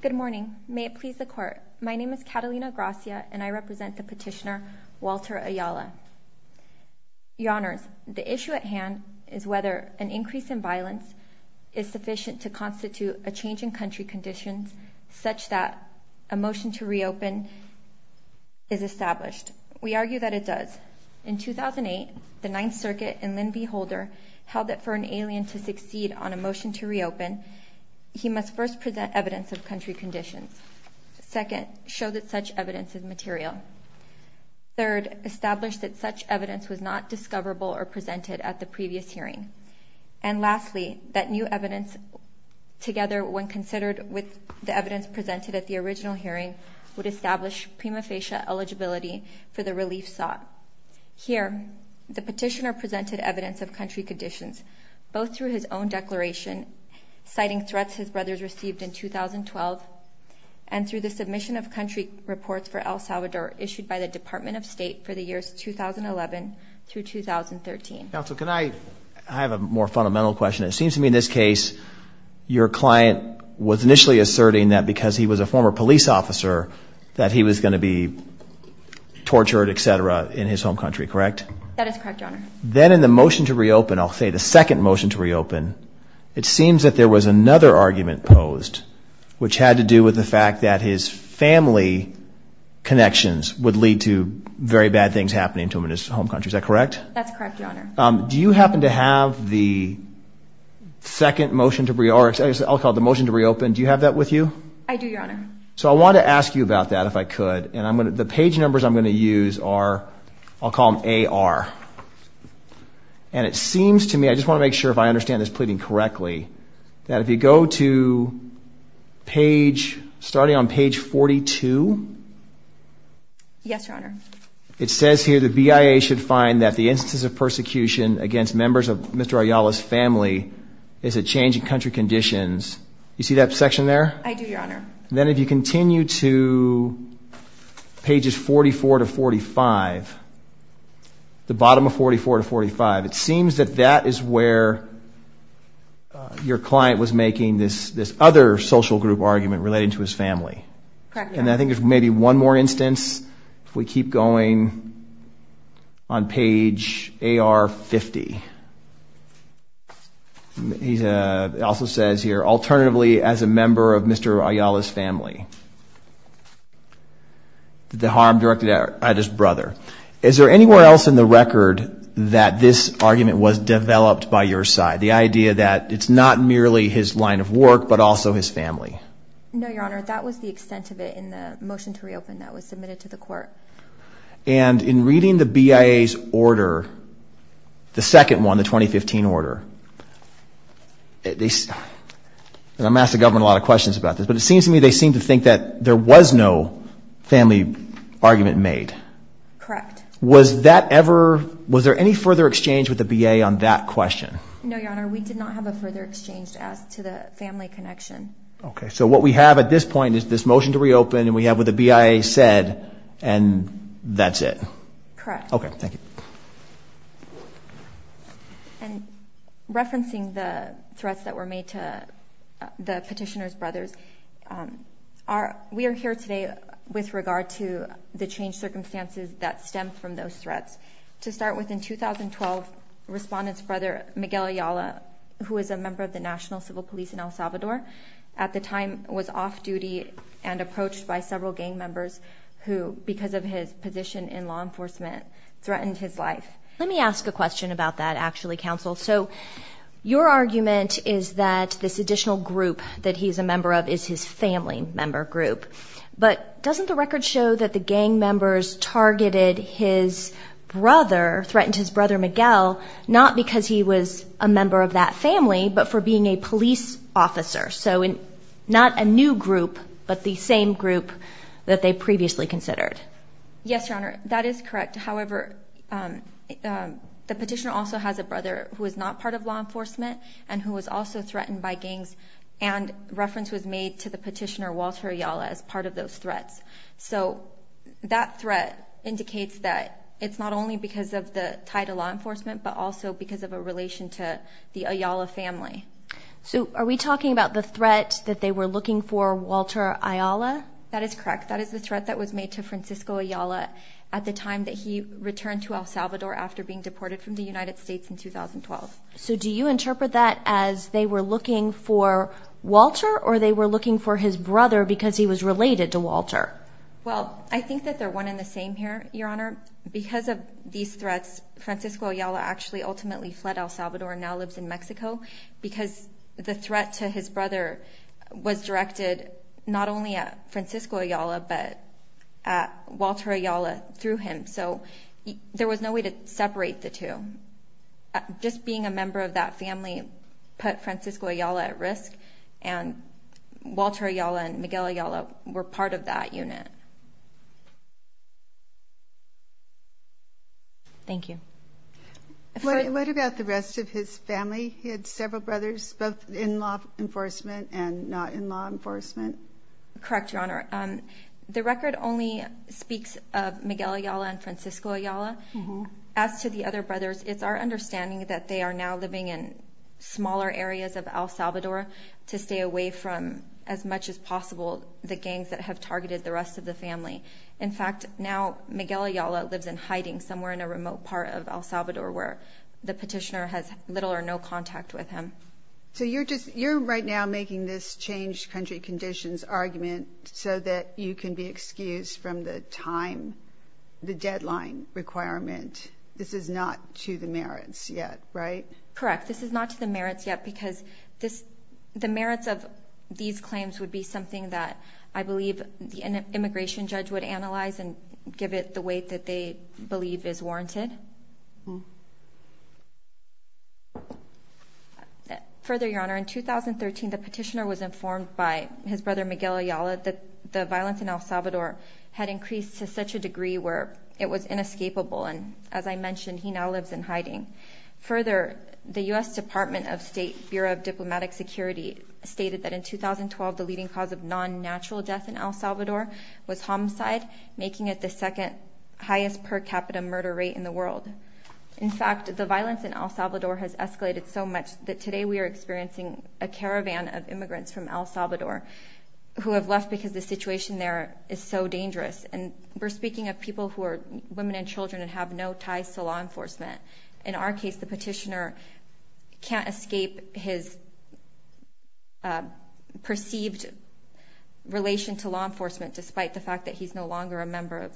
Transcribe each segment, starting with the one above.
Good morning. May it please the court. My name is Catalina Gracia and I represent the petitioner Walter Ayala. Your Honors, the issue at hand is whether an increase in violence is sufficient to constitute a change in country conditions such that a motion to reopen is established. First, we argue that it does. In 2008, the Ninth Circuit and Lynn B. Holder held that for an alien to succeed on a motion to reopen, he must first present evidence of country conditions. Second, show that such evidence is material. Third, establish that such evidence was not discoverable or presented at the previous hearing. And lastly, that new evidence together when considered with the evidence presented at the original hearing would establish prima facie eligibility for the relief sought. Here, the petitioner presented evidence of country conditions, both through his own declaration citing threats his brothers received in 2012 and through the submission of country reports for El Salvador issued by the Department of State for the years 2011 through 2013. Counsel, can I have a more fundamental question? It seems to me in this case, your client was initially asserting that because he was a former police officer that he was going to be tortured, etc., in his home country, correct? That is correct, Your Honor. Then in the motion to reopen, I'll say the second motion to reopen, it seems that there was another argument posed which had to do with the fact that his family connections would lead to very bad things happening to him in his home country. Is that correct? That's correct, Your Honor. Do you happen to have the second motion to reopen, I'll call it the motion to reopen, do you have that with you? I do, Your Honor. So I want to ask you about that if I could. The page numbers I'm going to use are, I'll call them AR. And it seems to me, I just want to make sure if I understand this pleading correctly, that if you go to page, starting on page 42? Yes, Your Honor. It says here the BIA should find that the instances of persecution against members of Mr. Ayala's family is a change in country conditions. You see that section there? I do, Your Honor. Then if you continue to pages 44 to 45, the bottom of 44 to 45, it seems that that is where your client was making this other social group argument relating to his family. Correct, Your Honor. And I think there's maybe one more instance if we keep going on page AR 50. It also says here, alternatively, as a member of Mr. Ayala's family, the harm directed at his brother. Is there anywhere else in the record that this argument was developed by your side? The idea that it's not merely his line of work, but also his family? No, Your Honor. That was the extent of it in the motion to reopen that was submitted to the court. And in reading the BIA's order, the second one, the 2015 order, I'm asking the government a lot of questions about this, but it seems to me they seem to think that there was no family argument made. Correct. Was that ever, was there any further exchange with the BIA on that question? No, Your Honor. We did not have a further exchange as to the family connection. Okay, so what we have at this point is this motion to reopen, and we have what the BIA said, and that's it. Correct. Okay, thank you. And referencing the threats that were made to the petitioner's brothers, we are here today with regard to the changed circumstances that stem from those threats. To start with, in 2012, Respondent's brother, Miguel Ayala, who is a member of the National Civil Police in El Salvador, at the time was off duty and approached by several gang members who, because of his position in law enforcement, threatened his life. Let me ask a question about that, actually, counsel. Your argument is that this additional group that he's a member of is his family member group, but doesn't the record show that the gang members targeted his brother, threatened his brother Miguel, not because he was a member of that family, but for being a police officer? So not a new group, but the same group that they previously considered. Yes, Your Honor, that is correct. However, the petitioner also has a brother who is not part of law enforcement and who was also threatened by gangs, and reference was made to the petitioner, Walter Ayala, as part of those threats. So that threat indicates that it's not only because of the tie to law enforcement, but also because of a relation to the Ayala family. So are we talking about the threat that they were looking for, Walter Ayala? That is correct. That is the threat that was made to Francisco Ayala at the time that he returned to El Salvador after being deported from the United States in 2012. So do you interpret that as they were looking for Walter, or they were looking for his brother because he was related to Walter? Well, I think that they're one in the same here, Your Honor. Because of these threats, Francisco Ayala actually ultimately fled El Salvador and now lives in Mexico, because the threat to his brother was directed not only at Francisco Ayala, but at Walter Ayala through him. So there was no way to separate the two. Just being a member of that family put Francisco Ayala at risk, and Walter Ayala and Miguel Ayala were part of that unit. Thank you. What about the rest of his family? He had several brothers, both in law enforcement and not in law enforcement. Correct, Your Honor. The record only speaks of Miguel Ayala and Francisco Ayala. As to the other brothers, it's our understanding that they are now living in smaller areas of El Salvador to stay away from, as much as possible, the gangs that have targeted the rest of the family. In fact, now Miguel Ayala lives in hiding somewhere in a remote part of El Salvador where the petitioner has little or no contact with him. So you're right now making this changed country conditions argument so that you can be excused from the deadline requirement. This is not to the merits yet, right? Correct. This is not to the merits yet because the merits of these claims would be something that I believe an immigration judge would analyze and give it the weight that they believe is warranted. Further, Your Honor, in 2013, the petitioner was informed by his brother Miguel Ayala that the violence in El Salvador had increased to such a degree where it was inescapable. And as I mentioned, he now lives in hiding. Further, the U.S. Department of State Bureau of Diplomatic Security stated that in 2012 the leading cause of non-natural death in El Salvador was homicide, making it the second highest per capita murder rate in the world. In fact, the violence in El Salvador has escalated so much that today we are experiencing a caravan of immigrants from El Salvador who have left because the situation there is so dangerous. And we're speaking of people who are women and children and have no ties to law enforcement. In our case, the petitioner can't escape his perceived relation to law enforcement despite the fact that he's no longer a member of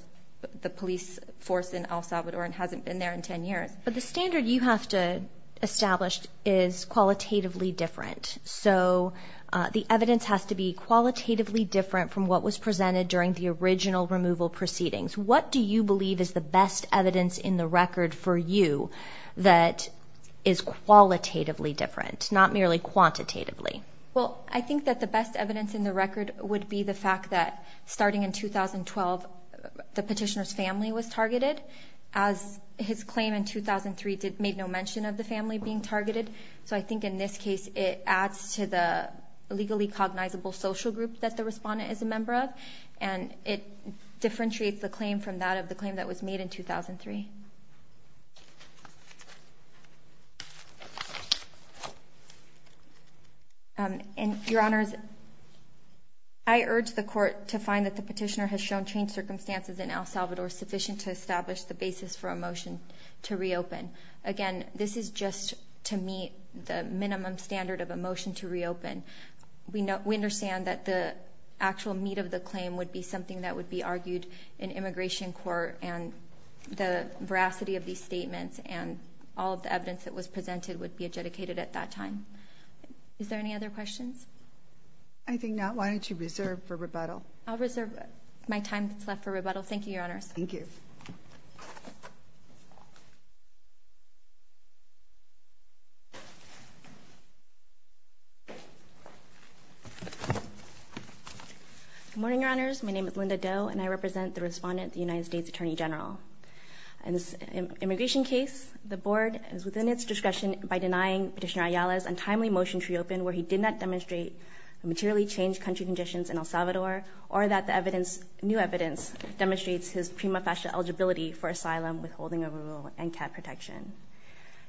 the police force in El Salvador and hasn't been there in 10 years. But the standard you have to establish is qualitatively different. So the evidence has to be qualitatively different from what was presented during the original removal proceedings. What do you believe is the best evidence in the record for you that is qualitatively different, not merely quantitatively? Well, I think that the best evidence in the record would be the fact that starting in 2012, the petitioner's family was targeted as his claim in 2003 made no mention of the family being targeted. So I think in this case, it adds to the legally cognizable social group that the respondent is a member of. And it differentiates the claim from that of the claim that was made in 2003. And, Your Honors, I urge the court to find that the petitioner has shown changed circumstances in El Salvador sufficient to establish the basis for a motion to reopen. Again, this is just to meet the minimum standard of a motion to reopen. We understand that the actual meat of the claim would be something that would be argued in immigration court. And the veracity of these statements and all of the evidence that was presented would be adjudicated at that time. Is there any other questions? I think not. Why don't you reserve for rebuttal? I'll reserve my time that's left for rebuttal. Thank you, Your Honors. Thank you. Good morning, Your Honors. My name is Linda Doe, and I represent the respondent, the United States Attorney General. In this immigration case, the board is within its discretion by denying Petitioner Ayala's untimely motion to reopen where he did not demonstrate materially changed country conditions in El Salvador or that the new evidence demonstrates his prima facie eligibility for asylum withholding a rule and cat protection.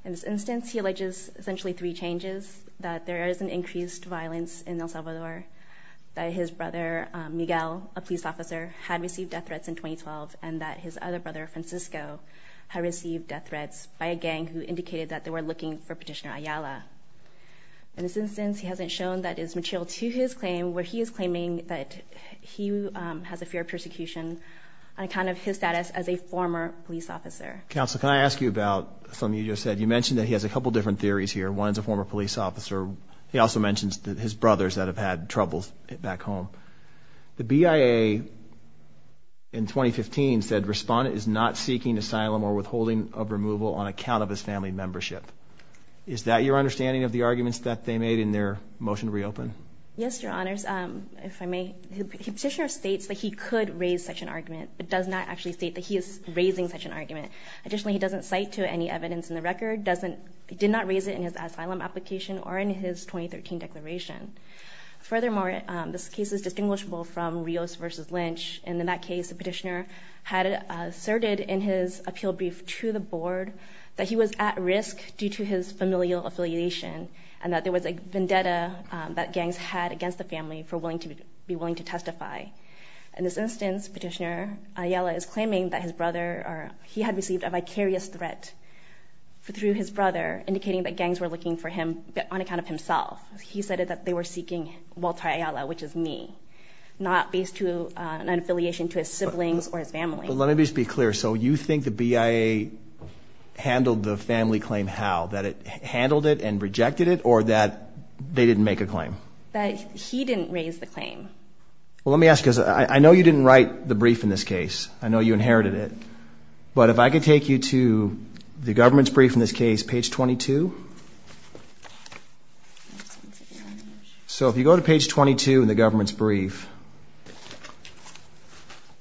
In this instance, he alleges essentially three changes, that there is an increased violence in El Salvador, that his brother, Miguel, a police officer, had received death threats in 2012, and that his other brother, Francisco, had received death threats by a gang who indicated that they were looking for Petitioner Ayala. In this instance, he hasn't shown that is material to his claim where he is claiming that he has a fear of persecution on account of his status as a former police officer. Counsel, can I ask you about something you just said? You mentioned that he has a couple different theories here. One is a former police officer. He also mentions that his brothers that have had troubles back home. The BIA in 2015 said respondent is not seeking asylum or withholding of removal on account of his family membership. Is that your understanding of the arguments that they made in their motion to reopen? Yes, Your Honors. If I may, Petitioner states that he could raise such an argument, but does not actually state that he is raising such an argument. Additionally, he doesn't cite to any evidence in the record, did not raise it in his asylum application or in his 2013 declaration. Furthermore, this case is distinguishable from Rios versus Lynch. In that case, Petitioner had asserted in his appeal brief to the board that he was at risk due to his familial affiliation and that there was a vendetta that gangs had against the family for being willing to testify. In this instance, Petitioner Ayala is claiming that he had received a vicarious threat through his brother, indicating that gangs were looking for him on account of himself. He said that they were seeking Walter Ayala, which is me, not based to an affiliation to his siblings or his family. But let me just be clear. So you think the BIA handled the family claim how? That it handled it and rejected it or that they didn't make a claim? That he didn't raise the claim. Well, let me ask because I know you didn't write the brief in this case. I know you inherited it. But if I could take you to the government's brief in this case, page 22. So if you go to page 22 in the government's brief,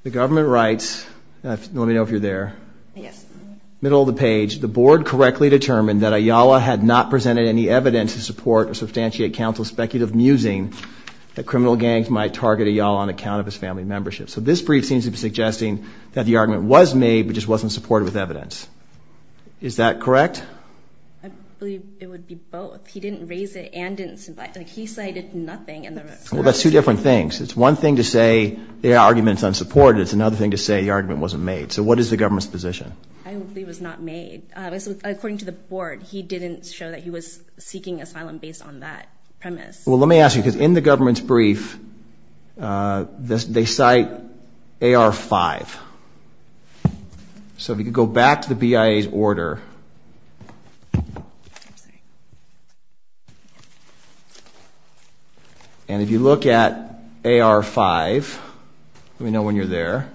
the government writes, let me know if you're there. Middle of the page, the board correctly determined that Ayala had not presented any evidence to support or substantiate counsel's speculative musing that criminal gangs might target Ayala on account of his family membership. So this brief seems to be suggesting that the argument was made, but just wasn't supported with evidence. Is that correct? I believe it would be both. He didn't raise it and didn't submit. He cited nothing. Well, that's two different things. It's one thing to say the argument's unsupported. It's another thing to say the argument wasn't made. So what is the government's position? I believe it was not made. According to the board, he didn't show that he was seeking asylum based on that premise. Well, let me ask you, because in the government's brief, they cite AR-5. So if you could go back to the BIA's order. And if you look at AR-5, let me know when you're there.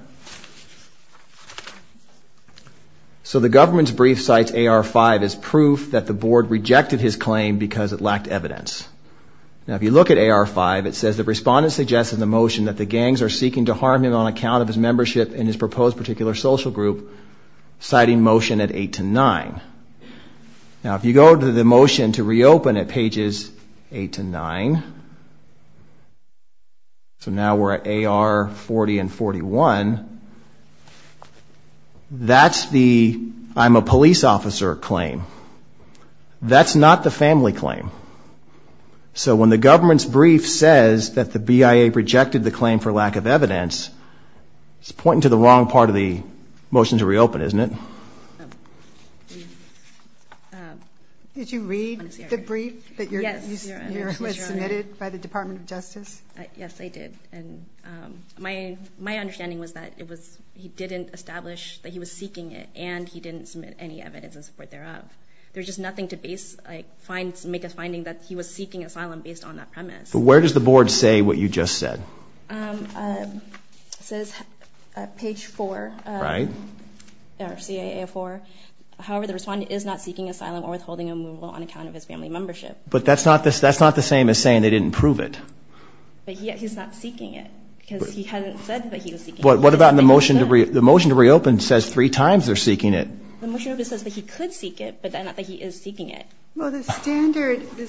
So the government's brief cites AR-5 as proof that the board rejected his claim because it lacked evidence. Now, if you look at AR-5, it says the respondent suggested the motion that the gangs are seeking to harm him on account of his membership in his proposed particular social group, citing motion at 8 to 9. Now, if you go to the motion to reopen at pages 8 to 9, so now we're at AR-40 and 41, that's the I'm a police officer claim. That's not the family claim. So when the government's brief says that the BIA rejected the claim for lack of evidence, it's pointing to the wrong part of the motion to reopen, isn't it? Did you read the brief that was submitted by the Department of Justice? Yes, I did. And my my understanding was that it was he didn't establish that he was seeking it and he didn't submit any evidence of support thereof. There's just nothing to base, like find, make a finding that he was seeking asylum based on that premise. Where does the board say what you just said? So it's page four. Right. However, the respondent is not seeking asylum or withholding removal on account of his family membership. But that's not this. That's not the same as saying they didn't prove it. But he's not seeking it because he hadn't said that he was. But what about the motion to reopen? The motion to reopen says three times they're seeking it. The motion says that he could seek it, but not that he is seeking it. Well, the standard could be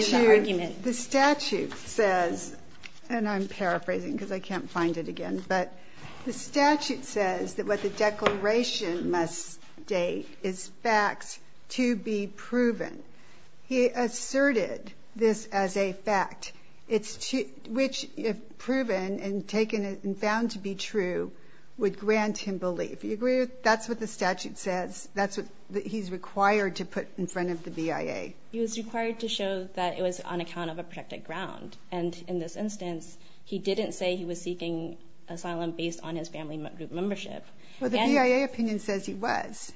the argument. The statute says and I'm paraphrasing because I can't find it again. But the statute says that what the declaration must date is facts to be proven. He asserted this as a fact, which if proven and taken and found to be true would grant him belief. Do you agree with that? That's what the statute says. That's what he's required to put in front of the BIA. He was required to show that it was on account of a protected ground. And in this instance, he didn't say he was seeking asylum based on his family membership. Well, the BIA opinion says he was.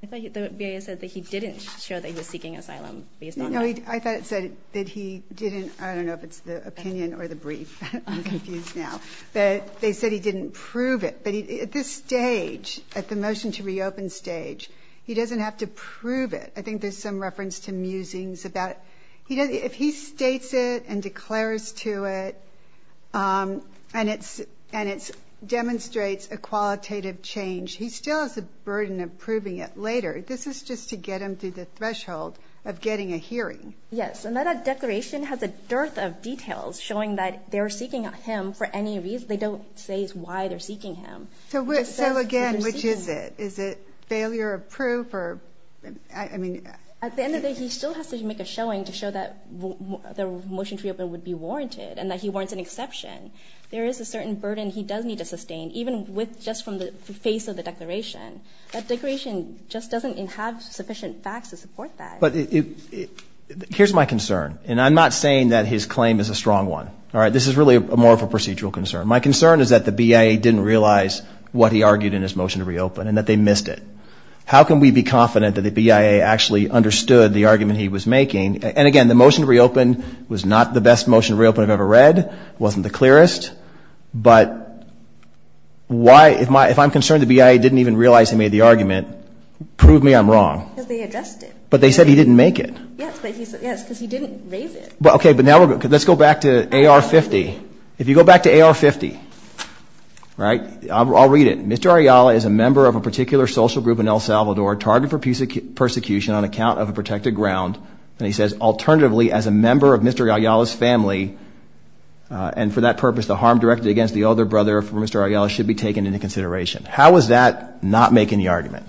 The BIA said that he didn't show that he was seeking asylum. No, I thought it said that he didn't. I don't know if it's the opinion or the brief. I'm confused now. But they said he didn't prove it. But at this stage, at the motion to reopen stage, he doesn't have to prove it. I think there's some reference to musings about if he states it and declares to it and it's and it's demonstrates a qualitative change. He still has a burden of proving it later. This is just to get him to the threshold of getting a hearing. Yes. And that declaration has a dearth of details showing that they're seeking him for any reason. They don't say why they're seeking him. So, again, which is it? Is it failure of proof? At the end of the day, he still has to make a showing to show that the motion to reopen would be warranted and that he warrants an exception. There is a certain burden he does need to sustain, even with just from the face of the declaration. That declaration just doesn't have sufficient facts to support that. But here's my concern, and I'm not saying that his claim is a strong one. All right. This is really more of a procedural concern. My concern is that the BIA didn't realize what he argued in his motion to reopen and that they missed it. How can we be confident that the BIA actually understood the argument he was making? And, again, the motion to reopen was not the best motion to reopen I've ever read. It wasn't the clearest. But if I'm concerned the BIA didn't even realize he made the argument, prove me I'm wrong. Because they addressed it. But they said he didn't make it. Yes, because he didn't raise it. Okay, but now let's go back to AR-50. If you go back to AR-50, all right, I'll read it. Mr. Ayala is a member of a particular social group in El Salvador targeted for persecution on account of a protected ground. And he says, alternatively, as a member of Mr. Ayala's family, and for that purpose, the harm directed against the elder brother of Mr. Ayala should be taken into consideration. How is that not making the argument?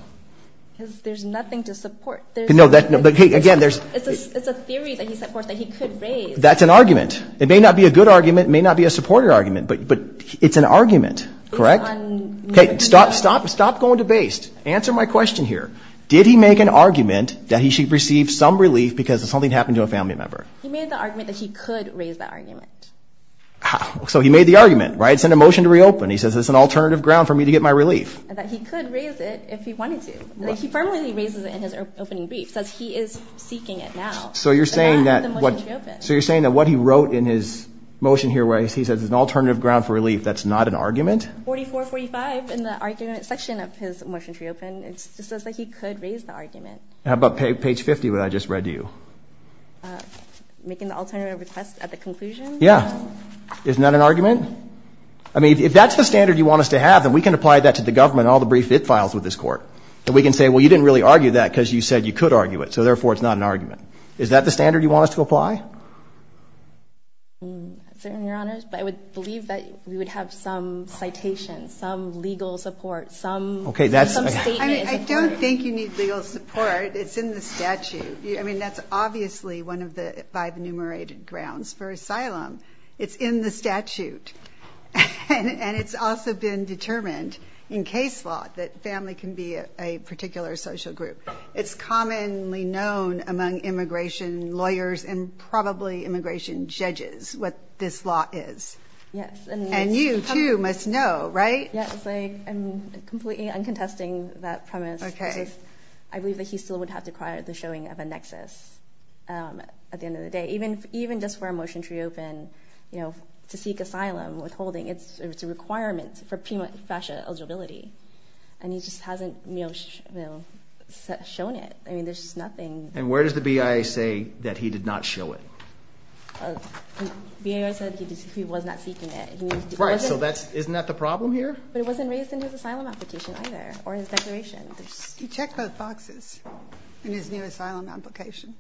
Because there's nothing to support. No, but again, there's – It's a theory that he supports that he could raise. That's an argument. It may not be a good argument. It may not be a supportive argument. But it's an argument, correct? Okay, stop going to base. Answer my question here. Did he make an argument that he should receive some relief because something happened to a family member? He made the argument that he could raise that argument. So he made the argument, right? It's in a motion to reopen. He says it's an alternative ground for me to get my relief. That he could raise it if he wanted to. He firmly raises it in his opening brief. He says he is seeking it now. So you're saying that what he wrote in his motion here where he says it's an alternative ground for relief, that's not an argument? 4445 in the argument section of his motion to reopen. It says that he could raise the argument. How about page 50 that I just read to you? Making the alternative request at the conclusion? Yeah. Isn't that an argument? I mean, if that's the standard you want us to have, then we can apply that to the government and all the brief it files with this court. And we can say, well, you didn't really argue that because you said you could argue it. So therefore, it's not an argument. Is that the standard you want us to apply? I would believe that we would have some citations, some legal support, some statement. I don't think you need legal support. It's in the statute. I mean, that's obviously one of the five enumerated grounds for asylum. It's in the statute. And it's also been determined in case law that family can be a particular social group. It's commonly known among immigration lawyers and probably immigration judges what this law is. Yes. And you, too, must know, right? Yes. I'm completely uncontesting that premise. Okay. I believe that he still would have to require the showing of a nexus at the end of the day. Even just for a motion to reopen, you know, to seek asylum, withholding, it's a requirement for premature eligibility. And he just hasn't, you know, shown it. I mean, there's just nothing. And where does the BIA say that he did not show it? The BIA said he was not seeking it. Right. So isn't that the problem here? But it wasn't raised in his asylum application either or his declaration. He checked both boxes in his new asylum application.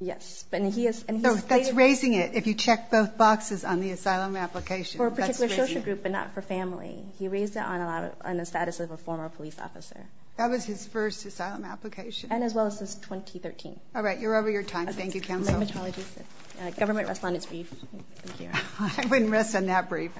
Yes. And he has stated— No, that's raising it. If you check both boxes on the asylum application, that's raising it. For a particular social group but not for family. He raised it on the status of a former police officer. That was his first asylum application. And as well as since 2013. All right. You're over your time. Thank you, counsel. Government respondent's brief. Thank you. I wouldn't rest on that brief.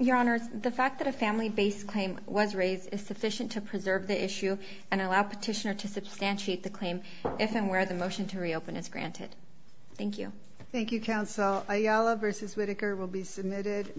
Your Honors, the fact that a family-based claim was raised is sufficient to preserve the issue and allow petitioner to substantiate the claim if and where the motion to reopen is granted. Thank you. Thank you, counsel. Ayala v. Whitaker will be submitted.